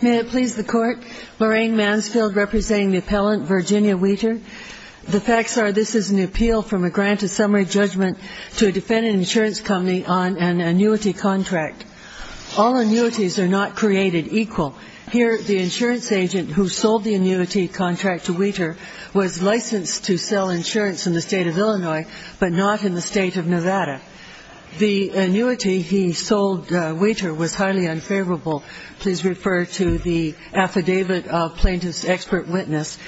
May it please the Court, Lorraine Mansfield representing the appellant Virginia Wietor. The facts are this is an appeal from a grant of summary judgment to a defendant insurance company on an annuity contract. All annuities are not created equal. Here the insurance agent who sold the annuity contract to Wietor was licensed to sell insurance in the state of Illinois but not in the state of Nevada. The annuity he sold Wietor was highly unfavorable. Please refer to the affidavit of plaintiff's expert witness.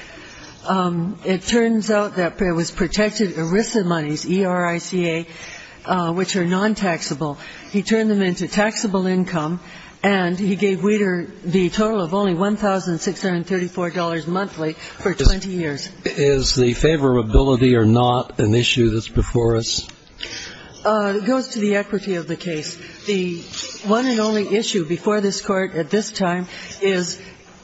It turns out that it was protected ERISA monies, E-R-I-C-A, which are non-taxable. He turned them into taxable income and he gave Wietor the total of only $1,634 monthly for 20 years. Is the favorability or not an issue that's before us? It goes to the equity of the case. The one and only issue before this Court at this time is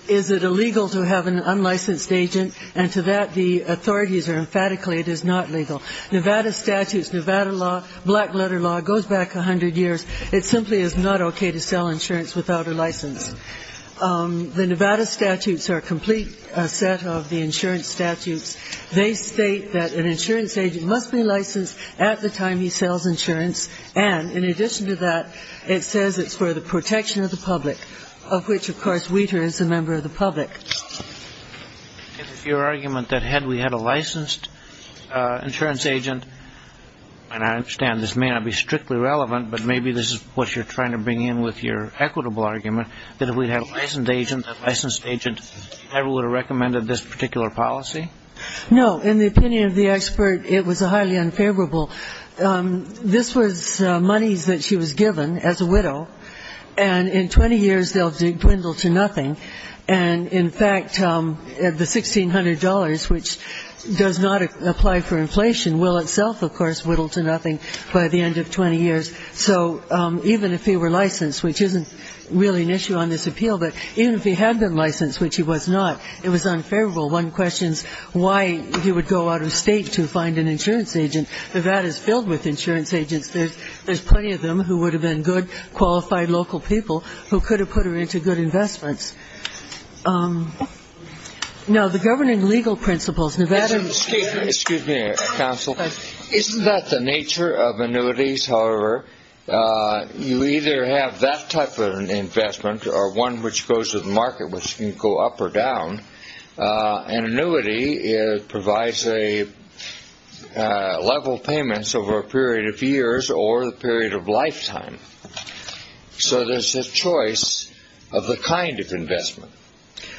is it illegal to have an unlicensed agent and to that the authorities are emphatically it is not legal. Nevada statutes, Nevada law, black letter law goes back 100 years. It simply is not okay to sell insurance without a license. The Nevada statutes are a complete set of the insurance statutes. They state that an insurance agent must be licensed at the time he sells insurance and in addition to that, it says it's for the protection of the public, of which of course Wietor is a member of the public. If your argument that had we had a licensed insurance agent, and I understand this may not be strictly relevant but maybe this is what you're trying to bring in with your equitable argument that if we had a licensed agent, that licensed agent never would have recommended this particular policy? No. In the opinion of the expert, it was highly unfavorable. This was monies that she was given as a widow, and in 20 years they'll dwindle to nothing. And in fact, the $1,600, which does not apply for inflation, will itself of course whittle to nothing by the end of 20 years. So even if he were licensed, which isn't really an issue on this appeal, but even if he had been licensed, which he was not, it was unfavorable. One questions why he would go out of state to find an insurance agent. Nevada is filled with insurance agents. There's plenty of them who would have been good, qualified local people who could have put her into good investments. Now, the governing legal principles. Excuse me, counsel. Isn't that the nature of annuities, however? You either have that type of an investment or one which goes to the market, which can go up or down. An annuity provides level payments over a period of years or a period of lifetime. So there's a choice of the kind of investment.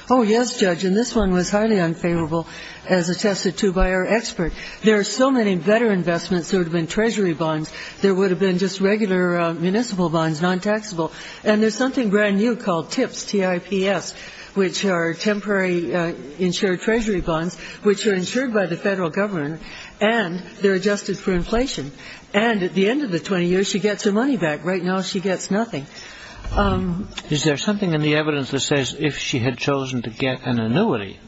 Oh, yes, Judge, and this one was highly unfavorable as attested to by our expert. There are so many better investments. There would have been treasury bonds. There would have been just regular municipal bonds, non-taxable. And there's something brand new called TIPS, T-I-P-S, which are temporary insured treasury bonds which are insured by the federal government and they're adjusted for inflation. And at the end of the 20 years she gets her money back. Right now she gets nothing. Is there something in the evidence that says if she had chosen to get an annuity,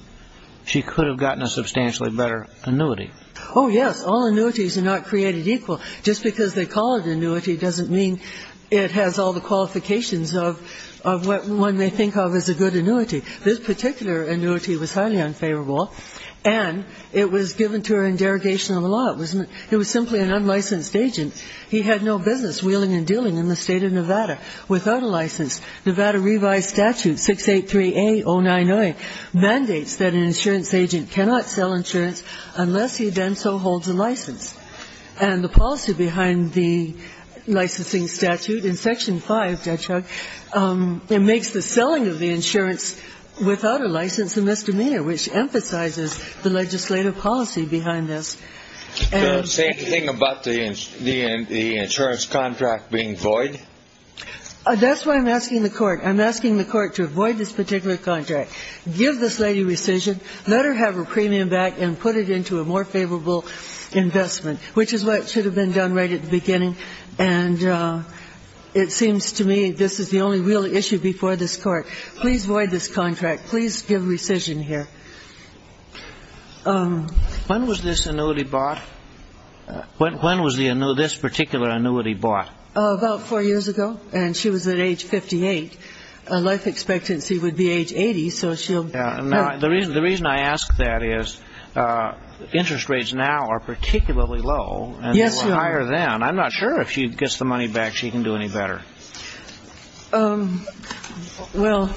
she could have gotten a substantially better annuity? Oh, yes. All annuities are not created equal. Just because they call it an annuity doesn't mean it has all the qualifications of what one may think of as a good annuity. This particular annuity was highly unfavorable, and it was given to her in derogation of the law. It was simply an unlicensed agent. He had no business wheeling and dealing in the state of Nevada without a license. Nevada revised statute 683A-099 mandates that an insurance agent cannot sell insurance unless he then so holds a license. And the policy behind the licensing statute in Section 5, Judge Huck, it makes the selling of the insurance without a license a misdemeanor, which emphasizes the legislative policy behind this. Does it say anything about the insurance contract being void? That's why I'm asking the Court. I'm asking the Court to void this particular contract. Give this lady rescission, let her have her premium back, and put it into a more favorable investment, which is what should have been done right at the beginning. And it seems to me this is the only real issue before this Court. Please void this contract. Please give rescission here. When was this annuity bought? When was this particular annuity bought? About four years ago, and she was at age 58. Life expectancy would be age 80, so she'll be good. The reason I ask that is interest rates now are particularly low. Yes, they are. And they were higher then. I'm not sure if she gets the money back she can do any better. Well,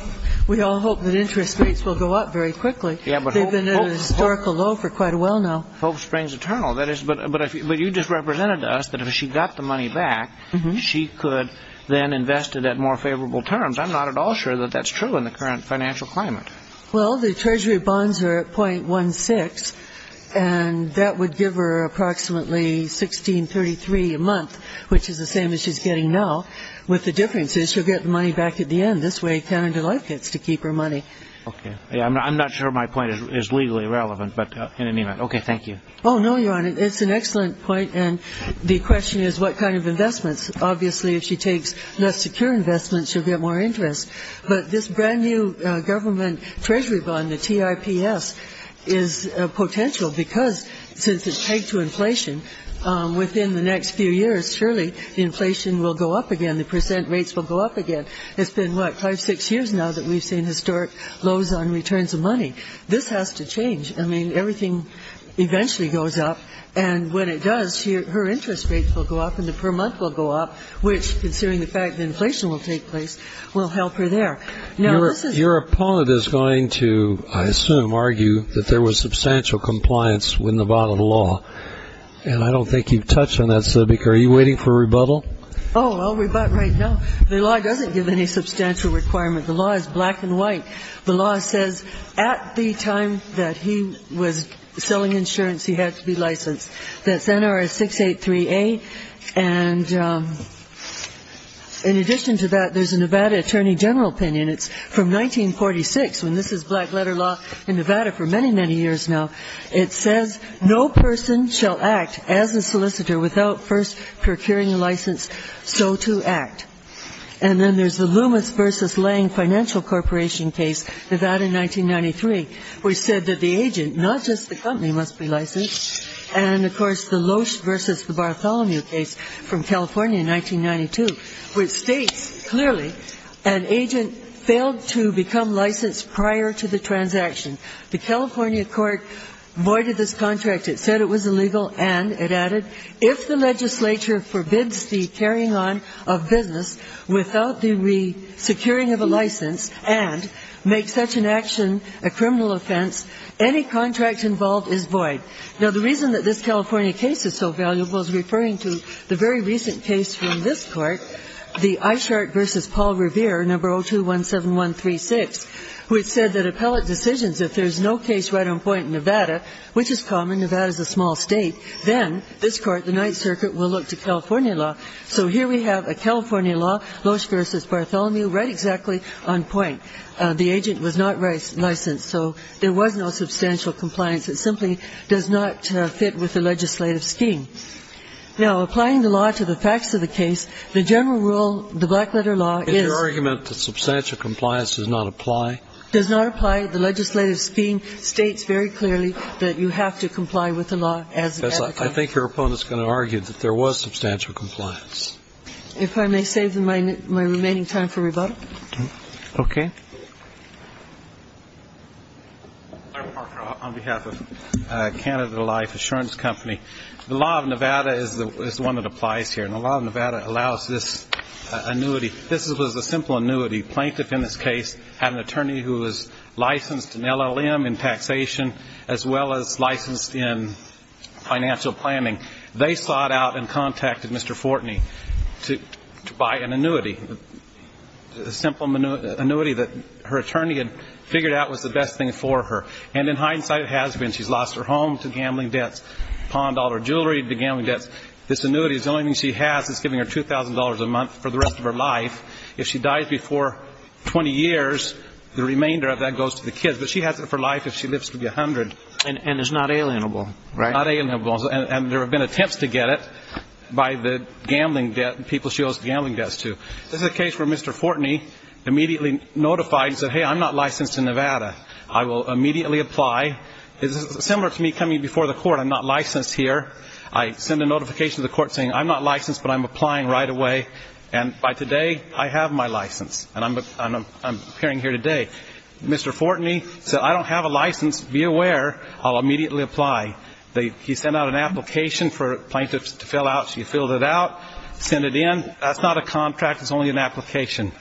we all hope that interest rates will go up very quickly. They've been at a historical low for quite a while now. Hope springs eternal. But you just represented to us that if she got the money back, she could then invest it at more favorable terms. I'm not at all sure that that's true in the current financial climate. Well, the Treasury bonds are at .16, and that would give her approximately $16.33 a month, which is the same as she's getting now, with the difference is she'll get the money back at the end. This way Canada Life gets to keep her money. I'm not sure my point is legally relevant, but in any event, okay, thank you. Oh, no, Your Honor, it's an excellent point, and the question is what kind of investments. Obviously, if she takes less secure investments, she'll get more interest. But this brand-new government Treasury bond, the TIPS, is potential because since it's pegged to inflation, within the next few years, surely inflation will go up again, the percent rates will go up again. It's been, what, five, six years now that we've seen historic lows on returns of money. This has to change. I mean, everything eventually goes up, and when it does, her interest rates will go up and the per month will go up, which, considering the fact that inflation will take place, will help her there. Now, your opponent is going to, I assume, argue that there was substantial compliance with Nevada law, and I don't think you've touched on that subject. Are you waiting for a rebuttal? Oh, I'll rebut right now. The law doesn't give any substantial requirement. The law is black and white. The law says at the time that he was selling insurance, he had to be licensed. That's NRS 683A. And in addition to that, there's a Nevada Attorney General opinion. It's from 1946, when this is black letter law in Nevada for many, many years now. It says, No person shall act as a solicitor without first procuring a license so to act. And then there's the Loomis v. Lange Financial Corporation case, Nevada, 1993, which said that the agent, not just the company, must be licensed. And, of course, the Loesch v. Bartholomew case from California in 1992, which states clearly an agent failed to become licensed prior to the transaction. The California court voided this contract. It said it was illegal, and it added, if the legislature forbids the carrying on of business without the securing of a license and makes such an action a criminal offense, any contract involved is void. Now, the reason that this California case is so valuable is referring to the very recent case from this Court, the Eischart v. Paul Revere, No. 0217136, which said that appellate decisions, if there's no case right on point in Nevada, which is common, Nevada's a small state, then this Court, the Ninth Circuit, will look to California law. So here we have a California law, Loesch v. Bartholomew, right exactly on point. The agent was not licensed. So there was no substantial compliance. It simply does not fit with the legislative scheme. Now, applying the law to the facts of the case, the general rule, the black letter law, is the argument that substantial compliance does not apply? Does not apply. The legislative scheme states very clearly that you have to comply with the law as an applicant. I think your opponent is going to argue that there was substantial compliance. If I may save my remaining time for rebuttal. Okay. Mr. Parker, on behalf of Canada Life Assurance Company, the law of Nevada is the one that applies here. And the law of Nevada allows this annuity. This was a simple annuity. The plaintiff in this case had an attorney who was licensed in LLM, in taxation, as well as licensed in financial planning. They sought out and contacted Mr. Fortney to buy an annuity, a simple annuity that her attorney had figured out was the best thing for her. And in hindsight, it has been. She's lost her home to gambling debts, pawned all her jewelry to gambling debts. This annuity, the only thing she has is giving her $2,000 a month for the rest of her life. If she dies before 20 years, the remainder of that goes to the kids. But she has it for life if she lives to be 100. And it's not alienable, right? Not alienable. And there have been attempts to get it by the people she owes gambling debts to. This is a case where Mr. Fortney immediately notified and said, hey, I'm not licensed in Nevada. I will immediately apply. It's similar to me coming before the court. I'm not licensed here. I send a notification to the court saying I'm not licensed, but I'm applying right away. And by today, I have my license, and I'm appearing here today. Mr. Fortney said, I don't have a license. Be aware. I'll immediately apply. He sent out an application for plaintiffs to fill out. She filled it out, sent it in. That's not a contract. It's only an application.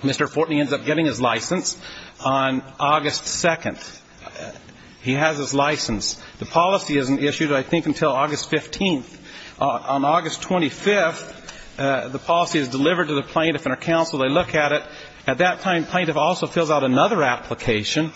Mr. Fortney ends up getting his license on August 2nd. He has his license. The policy isn't issued, I think, until August 15th. On August 25th, the policy is delivered to the plaintiff and her counsel. They look at it. At that time, the plaintiff also fills out another application,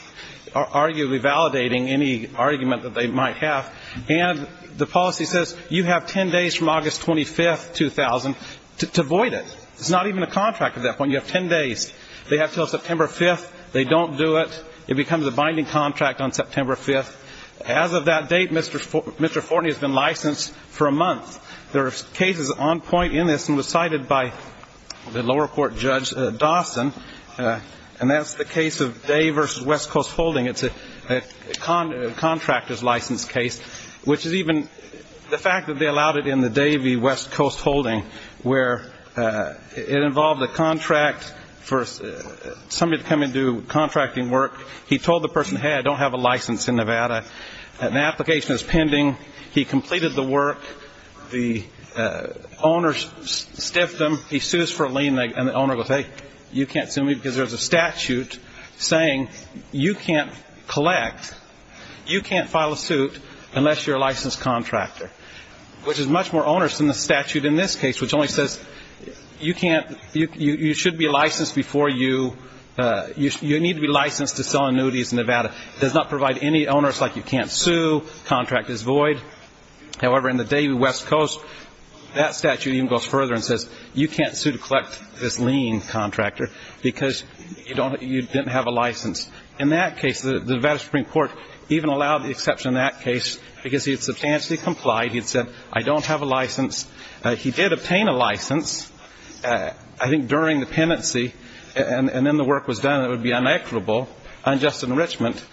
arguably validating any argument that they might have, and the policy says you have 10 days from August 25th, 2000 to void it. It's not even a contract at that point. You have 10 days. They have until September 5th. They don't do it. It becomes a binding contract on September 5th. As of that date, Mr. Fortney has been licensed for a month. There are cases on point in this and were cited by the lower court judge Dawson, and that's the case of Day v. West Coast Holding. It's a contractor's license case, which is even the fact that they allowed it in the Day v. West Coast Holding, where it involved a contract for somebody to come and do contracting work. He told the person, hey, I don't have a license in Nevada. An application is pending. He completed the work. The owner stiffed him. He sues for a lien, and the owner goes, hey, you can't sue me because there's a statute saying you can't collect, you can't file a suit unless you're a licensed contractor, which is much more onerous than the statute in this case, which only says you should be licensed before you need to be licensed to sell annuities in Nevada. It does not provide any onerous, like you can't sue, contract is void. However, in the Day v. West Coast, that statute even goes further and says you can't sue to collect this lien contractor because you didn't have a license. In that case, the Nevada Supreme Court even allowed the exception in that case because he had substantially complied. He had said, I don't have a license. He did obtain a license, I think, during the penancy, and then the work was done. It would be unequitable, unjust enrichment,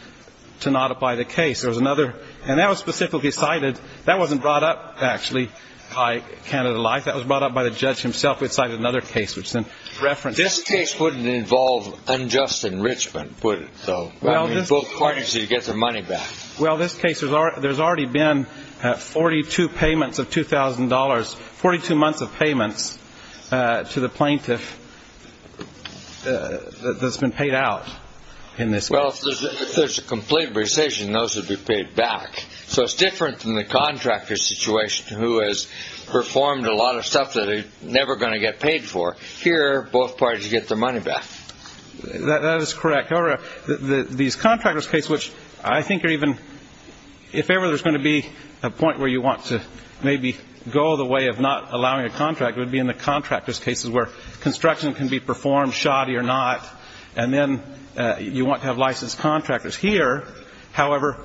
to not apply the case. There was another, and that was specifically cited. That wasn't brought up, actually, by Canada Life. That was brought up by the judge himself. It cited another case, which then referenced it. This case wouldn't involve unjust enrichment, would it, though? I mean, both parties need to get their money back. Well, this case, there's already been 42 payments of $2,000, 42 months of payments to the plaintiff that's been paid out in this case. Well, if there's a complete rescission, those would be paid back. So it's different than the contractor situation, who has performed a lot of stuff that they're never going to get paid for. Here, both parties get their money back. That is correct. However, these contractors' cases, which I think are even ‑‑ if ever there's going to be a point where you want to maybe go the way of not allowing a contractor, it would be in the contractors' cases where construction can be performed, shoddy or not, and then you want to have licensed contractors. Here, however,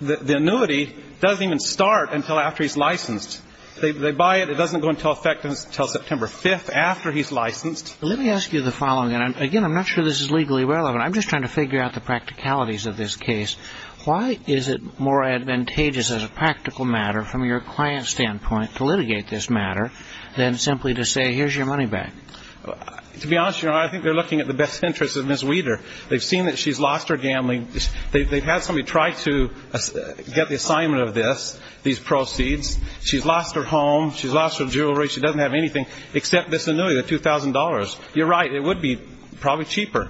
the annuity doesn't even start until after he's licensed. They buy it. It doesn't go into effect until September 5th, after he's licensed. Let me ask you the following, and, again, I'm not sure this is legally relevant. I'm just trying to figure out the practicalities of this case. Why is it more advantageous as a practical matter from your client's standpoint to litigate this matter than simply to say, here's your money back? To be honest, Your Honor, I think they're looking at the best interests of Ms. Weider. They've seen that she's lost her gambling. They've had somebody try to get the assignment of this, these proceeds. She's lost her home. She's lost her jewelry. She doesn't have anything except this annuity, the $2,000. You're right. It would be probably cheaper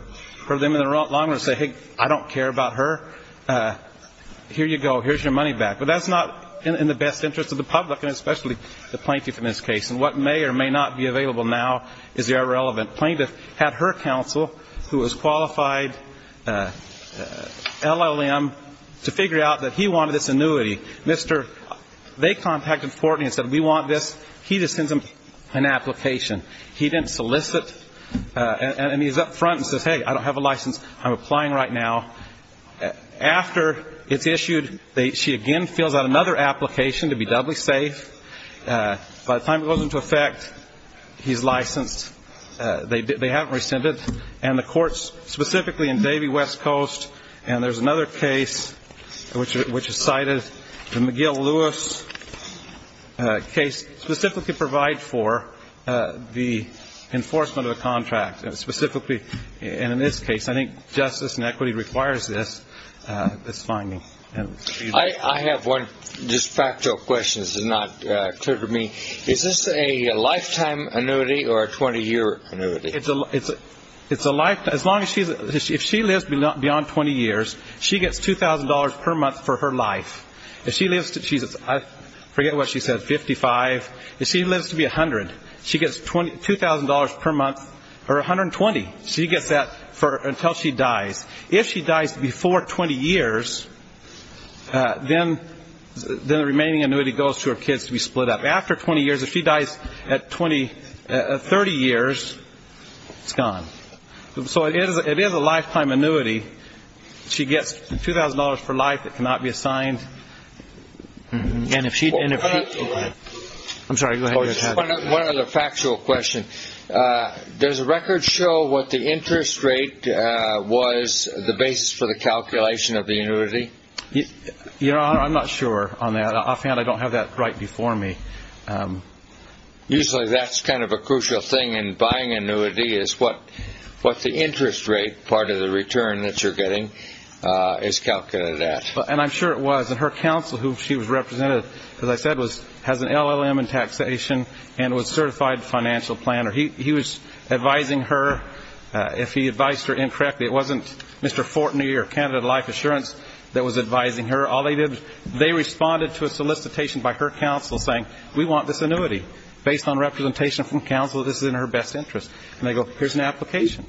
for them in the long run to say, hey, I don't care about her. Here you go. Here's your money back. But that's not in the best interest of the public and especially the plaintiff in this case. And what may or may not be available now is irrelevant. The plaintiff had her counsel, who was qualified LLM, to figure out that he wanted this annuity. They contacted Fortney and said, we want this. He just sends them an application. He didn't solicit. And he's up front and says, hey, I don't have a license. I'm applying right now. After it's issued, she again fills out another application to be doubly safe. By the time it goes into effect, he's licensed. They haven't rescinded. And the courts, specifically in Davie West Coast, and there's another case which is cited, the McGill-Lewis case, specifically provide for the enforcement of a contract, specifically. And in this case, I think justice and equity requires this finding. I have one just factual question. This is not clear to me. Is this a lifetime annuity or a 20-year annuity? It's a lifetime. If she lives beyond 20 years, she gets $2,000 per month for her life. If she lives to, I forget what she said, 55. If she lives to be 100, she gets $2,000 per month or 120. She gets that until she dies. If she dies before 20 years, then the remaining annuity goes to her kids to be split up. After 20 years, if she dies at 30 years, it's gone. So it is a lifetime annuity. If she gets $2,000 for life, it cannot be assigned. And if she didn't. I'm sorry. Go ahead. One other factual question. Does the record show what the interest rate was, the basis for the calculation of the annuity? I'm not sure on that. Offhand, I don't have that right before me. Usually that's kind of a crucial thing in buying annuity, is what the interest rate part of the return that you're getting is calculated at. And I'm sure it was. And her counsel, who she was represented, as I said, has an LLM in taxation and was a certified financial planner. He was advising her. If he advised her incorrectly, it wasn't Mr. Fortney or Canada Life Assurance that was advising her. They responded to a solicitation by her counsel saying, we want this annuity based on representation from counsel that this is in her best interest. And they go, here's an application.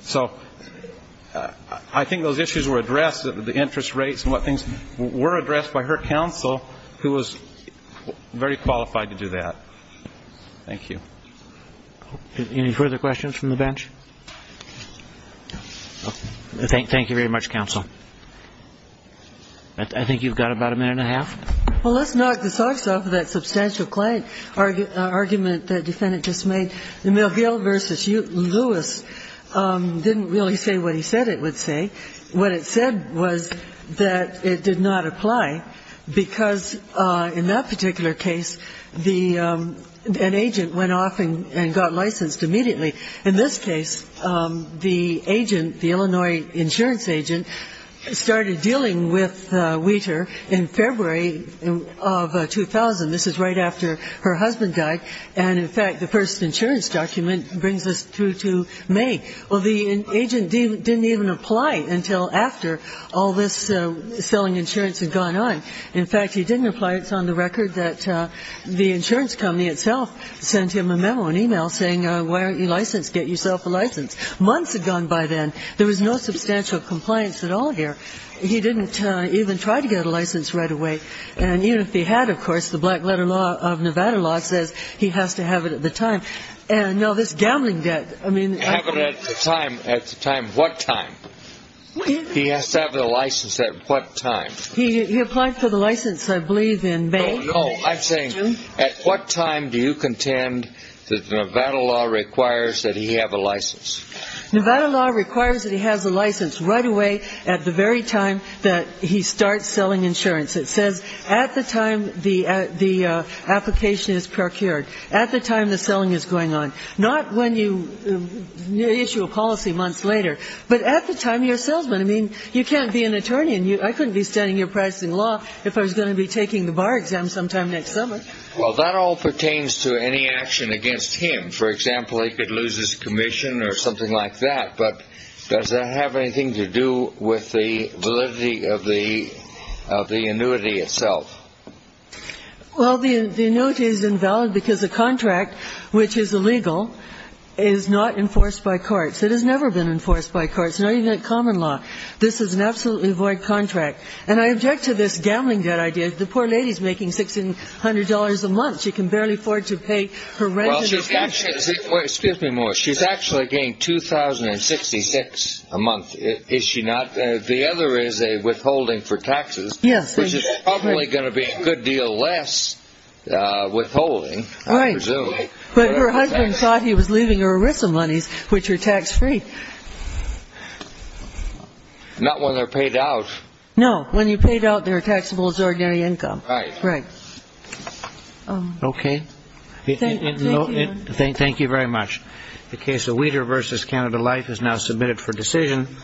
So I think those issues were addressed, the interest rates and what things, were addressed by her counsel, who was very qualified to do that. Thank you. Any further questions from the bench? Thank you very much, counsel. I think you've got about a minute and a half. Well, let's knock the socks off of that substantial client argument the defendant just made. The McGill v. Lewis didn't really say what he said it would say. What it said was that it did not apply, because in that particular case, an agent went off and got licensed immediately. In this case, the agent, the Illinois insurance agent, started dealing with Wheater in February of 2000. This is right after her husband died. And, in fact, the first insurance document brings us through to May. Well, the agent didn't even apply until after all this selling insurance had gone on. In fact, he didn't apply. It's on the record that the insurance company itself sent him a memo, an email, saying, why aren't you licensed? Get yourself a license. Months had gone by then. There was no substantial compliance at all here. He didn't even try to get a license right away. And even if he had, of course, the black letter law of Nevada law says he has to have it at the time. And, no, this gambling debt, I mean. Have it at the time. At the time. What time? He applied for the license, I believe, in May. No, I'm saying at what time do you contend that Nevada law requires that he have a license? Nevada law requires that he has a license right away at the very time that he starts selling insurance. It says at the time the application is procured, at the time the selling is going on. Not when you issue a policy months later, but at the time you're a salesman. I couldn't be standing here practicing law if I was going to be taking the bar exam sometime next summer. Well, that all pertains to any action against him. For example, he could lose his commission or something like that. But does that have anything to do with the validity of the annuity itself? Well, the annuity is invalid because the contract, which is illegal, is not enforced by courts. It has never been enforced by courts, not even in common law. This is an absolutely void contract. And I object to this gambling debt idea. The poor lady is making $1,600 a month. She can barely afford to pay her rent. Well, she's actually getting $2,066 a month, is she not? The other is a withholding for taxes, which is probably going to be a good deal less withholding, I presume. But her husband thought he was leaving her with some monies, which are tax-free. Not when they're paid out. No, when you pay it out, they're taxable as ordinary income. Right. Okay. Thank you very much. The case of Weter v. Canada Life is now submitted for decision.